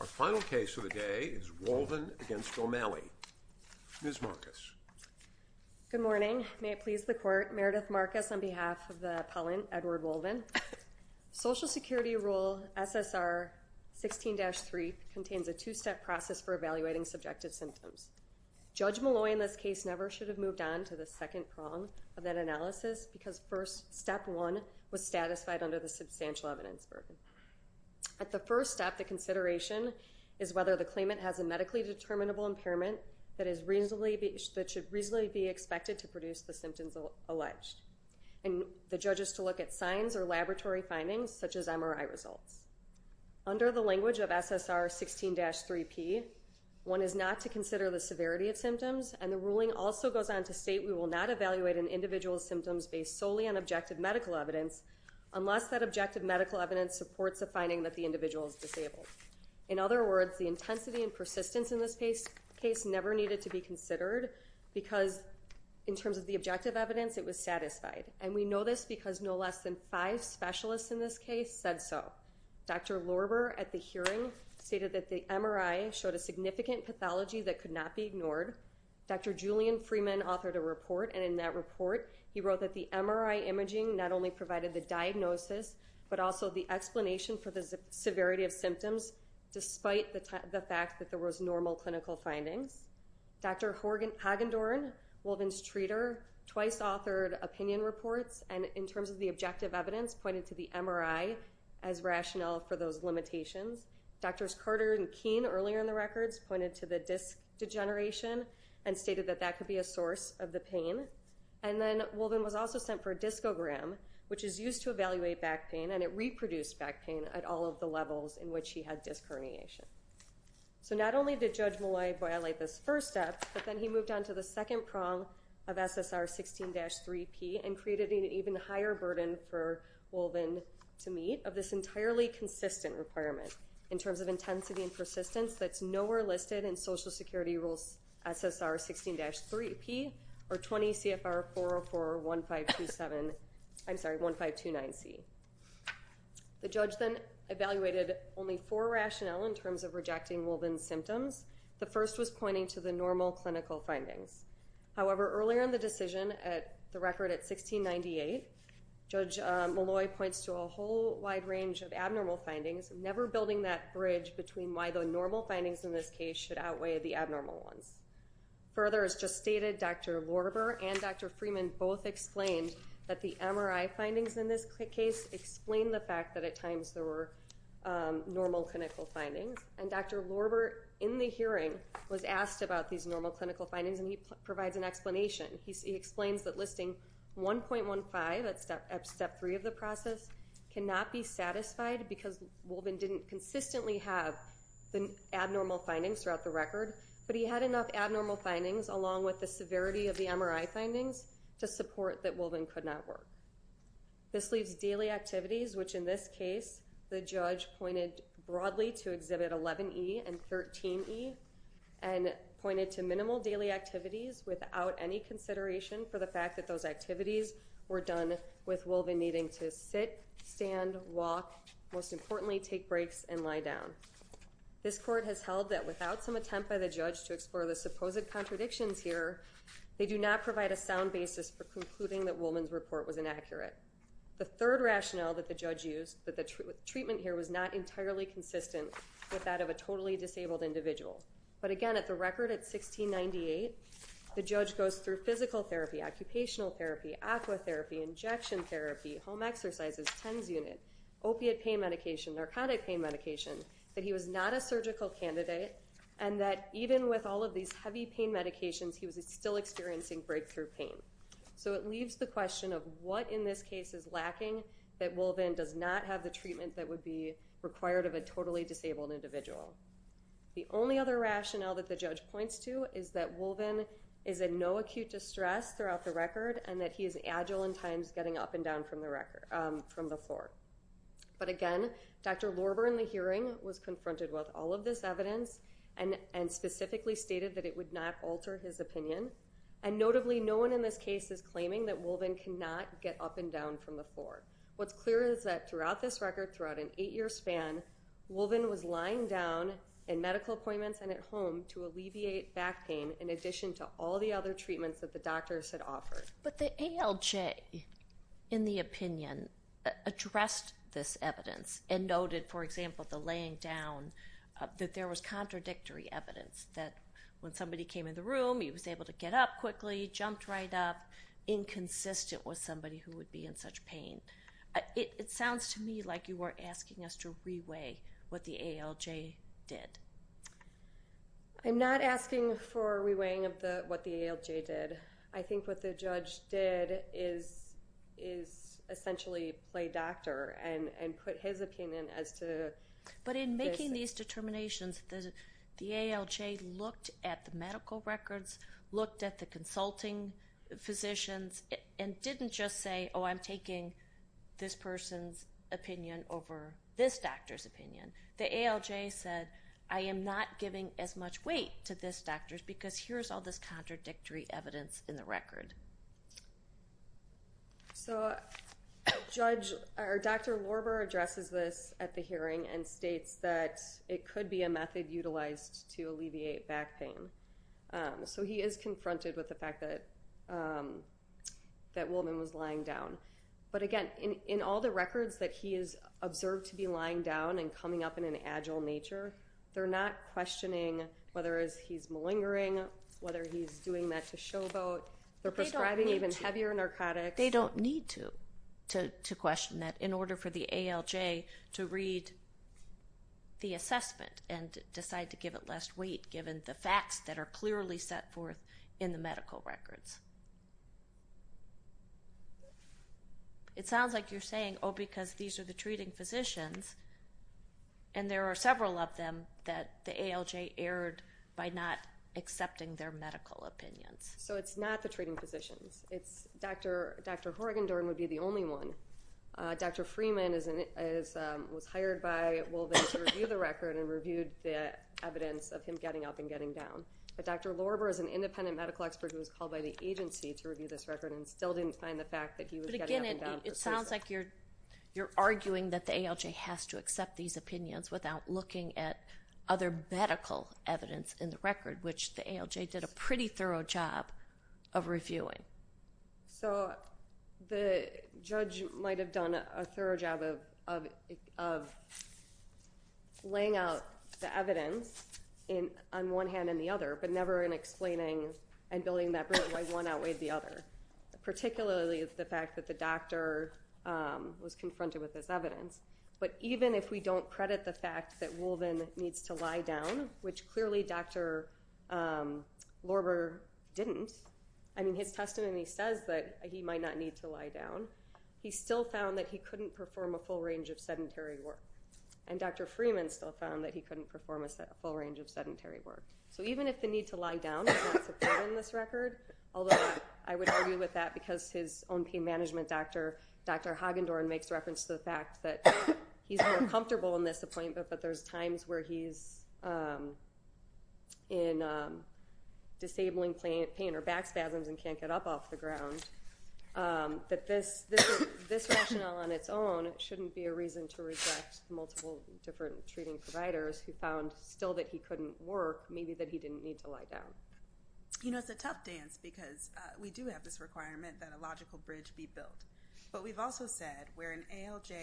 Our final case of the day is Wolvin v. O'Malley. Ms. Marcus. Good morning. May it please the Court, Meredith Marcus on behalf of the appellant Edward Wolvin. Social Security Rule SSR 16-3 contains a two-step process for evaluating subjective symptoms. Judge Malloy in this case never should have moved on to the second prong of that analysis because first step one was satisfied under the substantial evidence burden. At the first step, the consideration is whether the claimant has a medically determinable impairment that should reasonably be expected to produce the symptoms alleged and the judge is to look at signs or laboratory findings such as MRI results. Under the language of SSR 16-3P, one is not to consider the severity of symptoms and the ruling also goes on to state we will not evaluate an individual's symptoms based solely on reports of finding that the individual is disabled. In other words, the intensity and persistence in this case never needed to be considered because in terms of the objective evidence, it was satisfied and we know this because no less than five specialists in this case said so. Dr. Lorber at the hearing stated that the MRI showed a significant pathology that could not be ignored. Dr. Julian Freeman authored a report and in that report, he wrote that the MRI imaging not only provided the diagnosis but also the explanation for the severity of symptoms despite the fact that there was normal clinical findings. Dr. Hagendorn, Wolven's treater, twice authored opinion reports and in terms of the objective evidence pointed to the MRI as rationale for those limitations. Drs. Carter and Keene earlier in the records pointed to the disc degeneration and stated that that could be a source of the pain. And then Wolven was also sent for a discogram which is used to evaluate back pain and it reproduced back pain at all of the levels in which he had disc herniation. So not only did Judge Molloy violate this first step, but then he moved on to the second prong of SSR 16-3P and created an even higher burden for Wolven to meet of this entirely consistent requirement in terms of intensity and persistence that's nowhere listed in Social Policy CFR 404-1527, I'm sorry, 1529C. The judge then evaluated only four rationale in terms of rejecting Wolven's symptoms. The first was pointing to the normal clinical findings. However earlier in the decision at the record at 1698, Judge Molloy points to a whole wide range of abnormal findings, never building that bridge between why the normal findings in this case should outweigh the abnormal ones. Further, as just stated, Dr. Lorber and Dr. Freeman both explained that the MRI findings in this case explain the fact that at times there were normal clinical findings. And Dr. Lorber in the hearing was asked about these normal clinical findings and he provides an explanation. He explains that listing 1.15, that's step three of the process, cannot be satisfied because Wolven didn't consistently have abnormal findings throughout the record, but he had enough abnormal findings along with the severity of the MRI findings to support that Wolven could not work. This leaves daily activities, which in this case the judge pointed broadly to exhibit 11E and 13E, and pointed to minimal daily activities without any consideration for the fact that those activities were done with Wolven needing to sit, stand, walk, most importantly take breaks and lie down. This court has held that without some attempt by the judge to explore the supposed contradictions here, they do not provide a sound basis for concluding that Wolven's report was inaccurate. The third rationale that the judge used, that the treatment here was not entirely consistent with that of a totally disabled individual. But again, at the record at 1698, the judge goes through physical therapy, occupational therapy, aqua therapy, injection therapy, home exercises, TENS unit, opiate pain medication, narcotic pain medication, that he was not a surgical candidate and that even with all of these heavy pain medications, he was still experiencing breakthrough pain. So it leaves the question of what in this case is lacking that Wolven does not have the treatment that would be required of a totally disabled individual. The only other rationale that the judge points to is that Wolven is in no acute distress throughout the record and that he is agile in times getting up and down from the floor. But again, Dr. Lorber in the hearing was confronted with all of this evidence and specifically stated that it would not alter his opinion. And notably, no one in this case is claiming that Wolven cannot get up and down from the floor. What's clear is that throughout this record, throughout an eight-year span, Wolven was lying down in medical appointments and at home to alleviate back pain in addition to all the other treatments that the doctors had offered. But the ALJ, in the opinion, addressed this evidence and noted, for example, the laying down that there was contradictory evidence that when somebody came in the room, he was able to get up quickly, jumped right up, inconsistent with somebody who would be in such pain. It sounds to me like you were asking us to re-weigh what the ALJ did. I'm not asking for re-weighing of what the ALJ did. I think what the judge did is essentially play doctor and put his opinion as to this. But in making these determinations, the ALJ looked at the medical records, looked at the consulting physicians, and didn't just say, oh, I'm taking this person's opinion over this doctor's opinion. The ALJ said, I am not giving as much weight to this doctor's because here's all this contradictory evidence in the record. So Dr. Lorber addresses this at the hearing and states that it could be a method utilized to alleviate back pain. So he is confronted with the fact that that woman was lying down. But again, in all the records that he has observed to be lying down and coming up in an agile nature, they're not questioning whether he's malingering, whether he's doing that to show vote. They're prescribing even heavier narcotics. They don't need to question that in order for the ALJ to read the assessment and decide to give it less weight given the facts that are clearly set forth in the medical records. It sounds like you're saying, oh, because these are the treating physicians and there are several of them, that the ALJ erred by not accepting their medical opinions. So it's not the treating physicians. It's Dr. Horrigan-Dorn would be the only one. Dr. Freeman was hired by Wolven to review the record and reviewed the evidence of him getting up and getting down. But Dr. Lorber is an independent medical expert who was called by the agency to review this record and still didn't find the fact that he was getting up and down persuasive. It sounds like you're arguing that the ALJ has to accept these opinions without looking at other medical evidence in the record, which the ALJ did a pretty thorough job of reviewing. So the judge might have done a thorough job of laying out the evidence on one hand and the other, but never in explaining and building that bridge of why one outweighed the other. Particularly the fact that the doctor was confronted with this evidence. But even if we don't credit the fact that Wolven needs to lie down, which clearly Dr. Lorber didn't, I mean, his testimony says that he might not need to lie down, he still found that he couldn't perform a full range of sedentary work. And Dr. Freeman still found that he couldn't perform a full range of sedentary work. So even if the need to lie down is not supported in this record, although I would argue with that because his own pain management doctor, Dr. Hagendorn, makes reference to the fact that he's more comfortable in this appointment, but there's times where he's in disabling pain or back spasms and can't get up off the ground, that this rationale on its own shouldn't be a reason to reject multiple different treating providers who found still that he couldn't work, maybe that he didn't need to lie down. You know, it's a tough dance because we do have this requirement that a logical bridge be built. But we've also said where an ALJ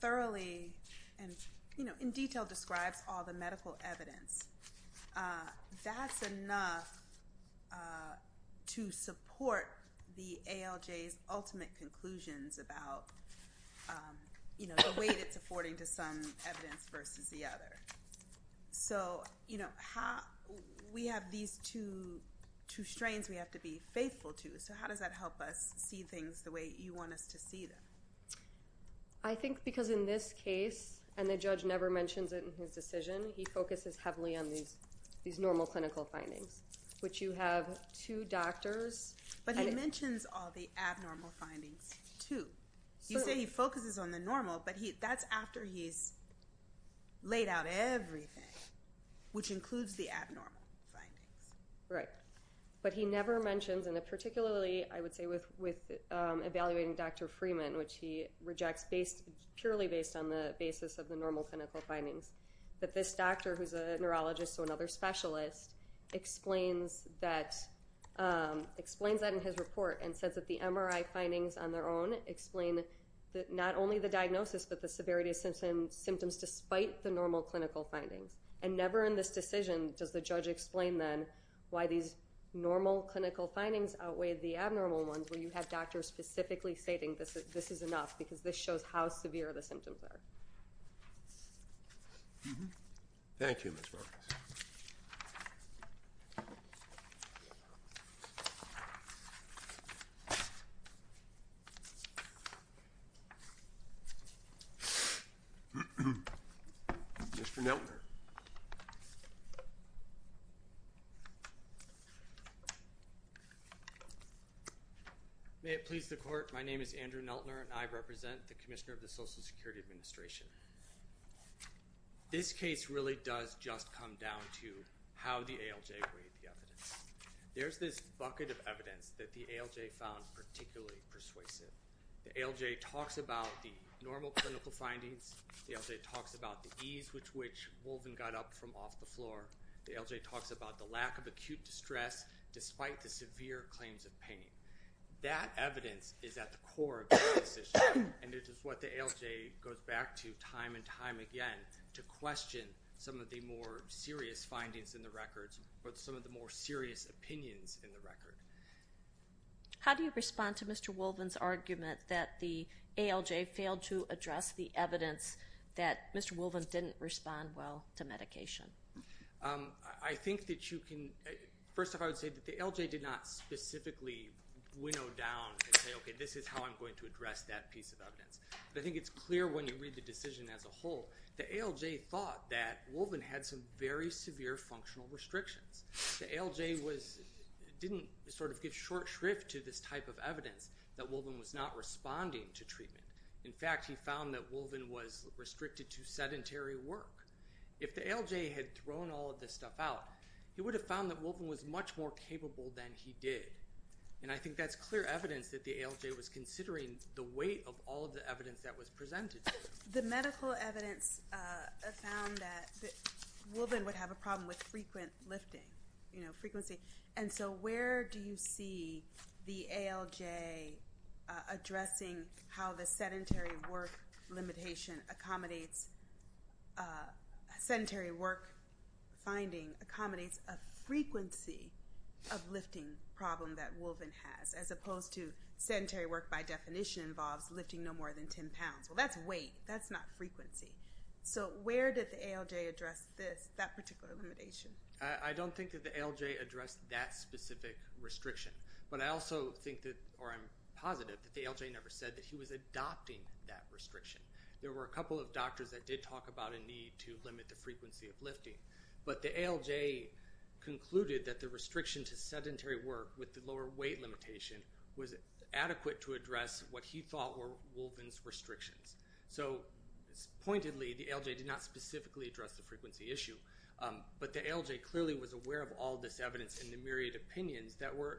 thoroughly and, you know, in detail describes all the medical evidence, that's enough to support the ALJ's ultimate conclusions about, you So, you know, we have these two strains we have to be faithful to, so how does that help us see things the way you want us to see them? I think because in this case, and the judge never mentions it in his decision, he focuses heavily on these normal clinical findings, which you have two doctors... But he mentions all the abnormal findings, too. You say he focuses on the normal, but that's after he's laid out everything, which includes the abnormal findings. Right. But he never mentions, and particularly, I would say, with evaluating Dr. Freeman, which he rejects purely based on the basis of the normal clinical findings, that this doctor, who's a neurologist, so another specialist, explains that in his report and says that the MRI findings on their own explain not only the diagnosis, but the severity of symptoms despite the normal clinical findings. And never in this decision does the judge explain, then, why these normal clinical findings outweigh the abnormal ones, where you have doctors specifically stating this is enough, because this shows how severe the symptoms are. Thank you, Ms. Roberts. Mr. Neltner. May it please the court, my name is Andrew Neltner, and I represent the Commissioner of the Social Security Administration. This case really does just come down to how the ALJ weighed the evidence. There's this bucket of evidence that the ALJ found particularly persuasive. The ALJ talks about the normal clinical findings. The ALJ talks about the ease with which Wolven got up from off the floor. The ALJ talks about the lack of acute distress despite the severe claims of pain. That evidence is at the core of this decision, and it is what the ALJ goes back to time and time again to question some of the more serious findings in the records, or some of the more serious opinions in the record. How do you respond to Mr. Wolven's argument that the ALJ failed to address the evidence that Mr. Wolven didn't respond well to medication? I think that you can – first off, I would say that the ALJ did not specifically winnow down and say, okay, this is how I'm going to address that piece of evidence. But I think it's clear when you read the decision as a whole. The ALJ thought that Wolven had some very severe functional restrictions. The ALJ didn't sort of give short shrift to this type of evidence that Wolven was not responding to treatment. In fact, he found that Wolven was restricted to sedentary work. If the ALJ had thrown all of this stuff out, he would have found that Wolven was much more capable than he did. And I think that's clear evidence that the ALJ was considering the weight of all of the evidence that was presented. The medical evidence found that Wolven would have a problem with frequent lifting, you know, frequency. And so where do you see the ALJ addressing how the sedentary work limitation accommodates – sedentary work finding accommodates a frequency of lifting problem that Wolven has, as opposed to sedentary work by definition involves lifting no more than 10 pounds? Well, that's weight. That's not frequency. So where did the ALJ address this – that particular limitation? I don't think that the ALJ addressed that specific restriction. But I also think that – or I'm positive that the ALJ never said that he was adopting that restriction. There were a couple of doctors that did talk about a need to limit the frequency of lifting. But the ALJ concluded that the restriction to sedentary work with the lower weight limitation was adequate to address what he thought were Wolven's restrictions. So pointedly, the ALJ did not specifically address the frequency issue. But the ALJ clearly was aware of all this evidence in the myriad opinions that were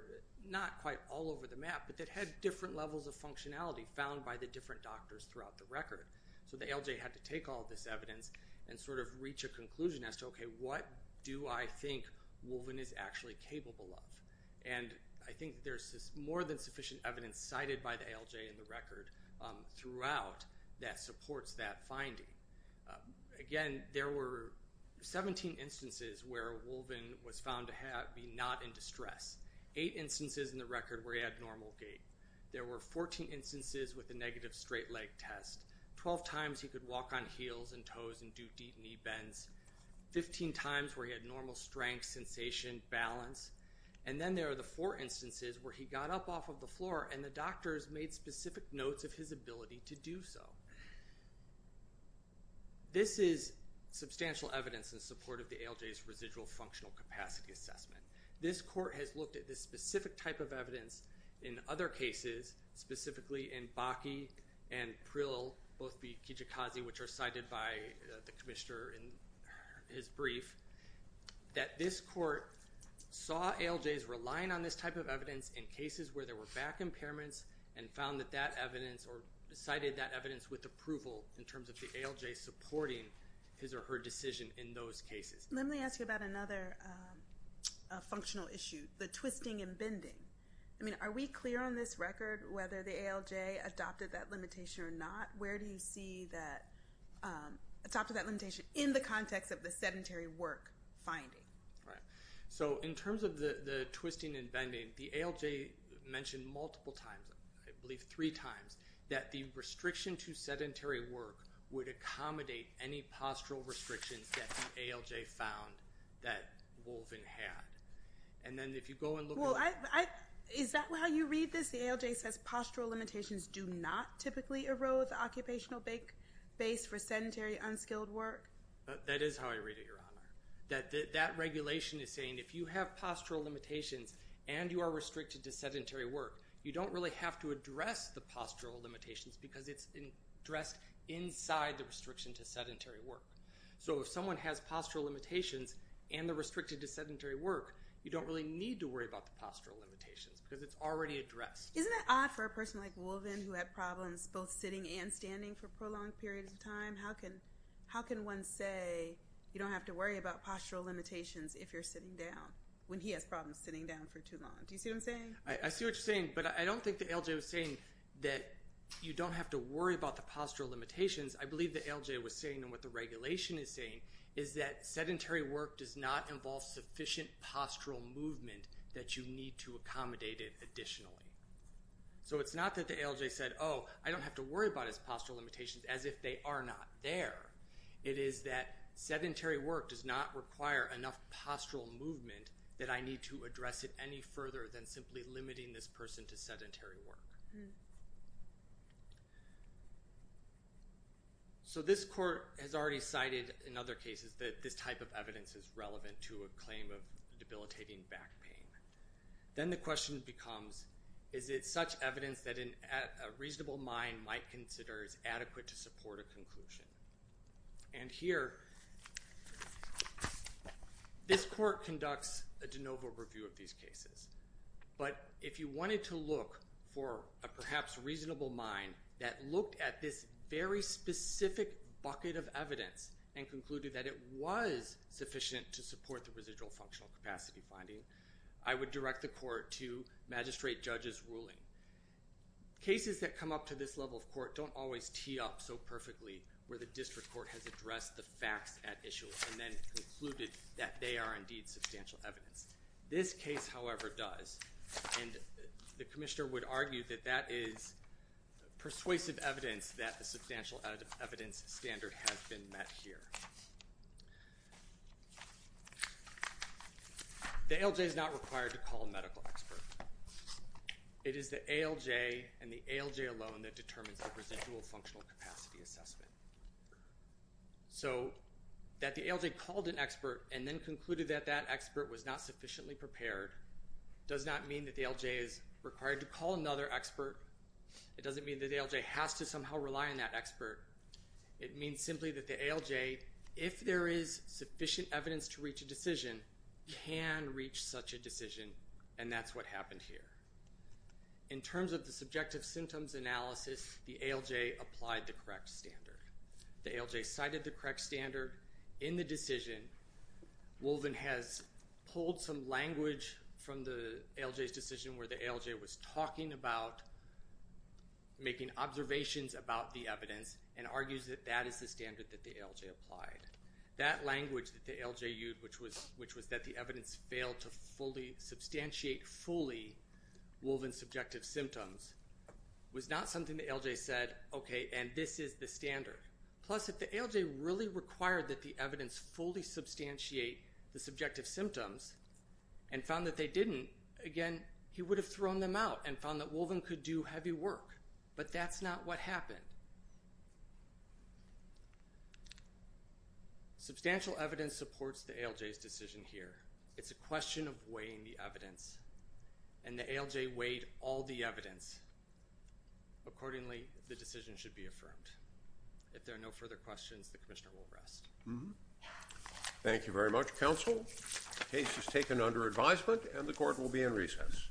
not quite all over the map, but that had different levels of functionality found by the different doctors throughout the record. So the ALJ had to take all this evidence and sort of reach a conclusion as to, okay, what do I think Wolven is actually capable of? And I think there's more than sufficient evidence cited by the ALJ in the record throughout that supports that finding. Again, there were 17 instances where Wolven was found to be not in distress, eight instances in the record where he had normal gait. There were 14 instances with a negative straight leg test, 12 times he could walk on heels and toes and do deep knee bends, 15 times where he had normal strength, sensation, balance. And then there are the four instances where he got up off of the floor and the doctors made specific notes of his ability to do so. This is substantial evidence in support of the ALJ's residual functional capacity assessment. This court has looked at this specific type of evidence in other cases, specifically in Bakke and Prill, both be Kijikazi, which are cited by the commissioner in his brief, that this court saw ALJs relying on this type of evidence in cases where there were back impairments and found that that evidence or cited that evidence with approval in terms of the ALJ supporting his or her decision in those cases. Let me ask you about another functional issue, the twisting and bending. I mean, are we clear on this record whether the ALJ adopted that limitation or not? Where do you see that adopted that limitation in the context of the sedentary work finding? So in terms of the twisting and bending, the ALJ mentioned multiple times, I believe three times, that the restriction to sedentary work would accommodate any postural restrictions that the ALJ found that Wolven had. Is that how you read this? The ALJ says postural limitations do not typically erode the occupational base for sedentary, unskilled work? That is how I read it, Your Honor. That regulation is saying if you have postural limitations and you are restricted to sedentary work, you don't really have to address the postural limitations because it's addressed inside the restriction to sedentary work. So if someone has postural limitations and they're restricted to sedentary work, you don't really need to worry about the postural limitations because it's already addressed. Isn't it odd for a person like Wolven who had problems both sitting and standing for prolonged periods of time, how can one say you don't have to worry about postural limitations if you're sitting down, when he has problems sitting down for too long? Do you see what I'm saying? I see what you're saying, but I don't think the ALJ was saying that you don't have to worry about the postural limitations. I believe the ALJ was saying and what the regulation is saying is that sedentary work does not involve sufficient postural movement that you need to accommodate it additionally. So it's not that the ALJ said, oh, I don't have to worry about his postural limitations as if they are not there. It is that sedentary work does not require enough postural movement that I need to address it any further than simply limiting this person to sedentary work. So this court has already cited in other cases that this type of evidence is relevant to a claim of debilitating back pain. Then the question becomes, is it such evidence that a reasonable mind might consider is adequate to support a conclusion? And here, this court conducts a de novo review of these cases. But if you wanted to look for a perhaps reasonable mind that looked at this very specific bucket of evidence and concluded that it was sufficient to support the residual functional capacity finding, I would direct the court to magistrate judge's ruling. Cases that come up to this level of court don't always tee up so perfectly where the district court has addressed the facts at issue and then concluded that they are indeed substantial evidence. This case, however, does. And the commissioner would argue that that is persuasive evidence that the substantial evidence standard has been met here. The ALJ is not required to call a medical expert. It is the ALJ and the ALJ alone that determines the residual functional capacity assessment. So that the ALJ called an expert and then concluded that that expert was not sufficiently prepared does not mean that the ALJ is required to call another expert. It doesn't mean that the ALJ has to somehow rely on that expert. It means simply that the ALJ, if there is sufficient evidence to reach a decision, can reach such a decision and that's what happened here. In terms of the subjective symptoms analysis, the ALJ applied the correct standard. The ALJ cited the correct standard in the decision. Wolven has pulled some language from the ALJ's decision where the ALJ was talking about making observations about the evidence and argues that that is the standard that the ALJ applied. That language that the ALJ used, which was that the evidence failed to fully substantiate, fully, Wolven's subjective symptoms, was not something the ALJ said, okay, and this is the standard. Plus, if the ALJ really required that the evidence fully substantiate the subjective symptoms and found that they didn't, again, he would have thrown them out and found that Wolven could do heavy work. But that's not what happened. Substantial evidence supports the ALJ's decision here. It's a question of weighing the evidence, and the ALJ weighed all the evidence. Accordingly, the decision should be affirmed. If there are no further questions, the commissioner will rest. Thank you very much, counsel. The case is taken under advisement and the court will be in recess.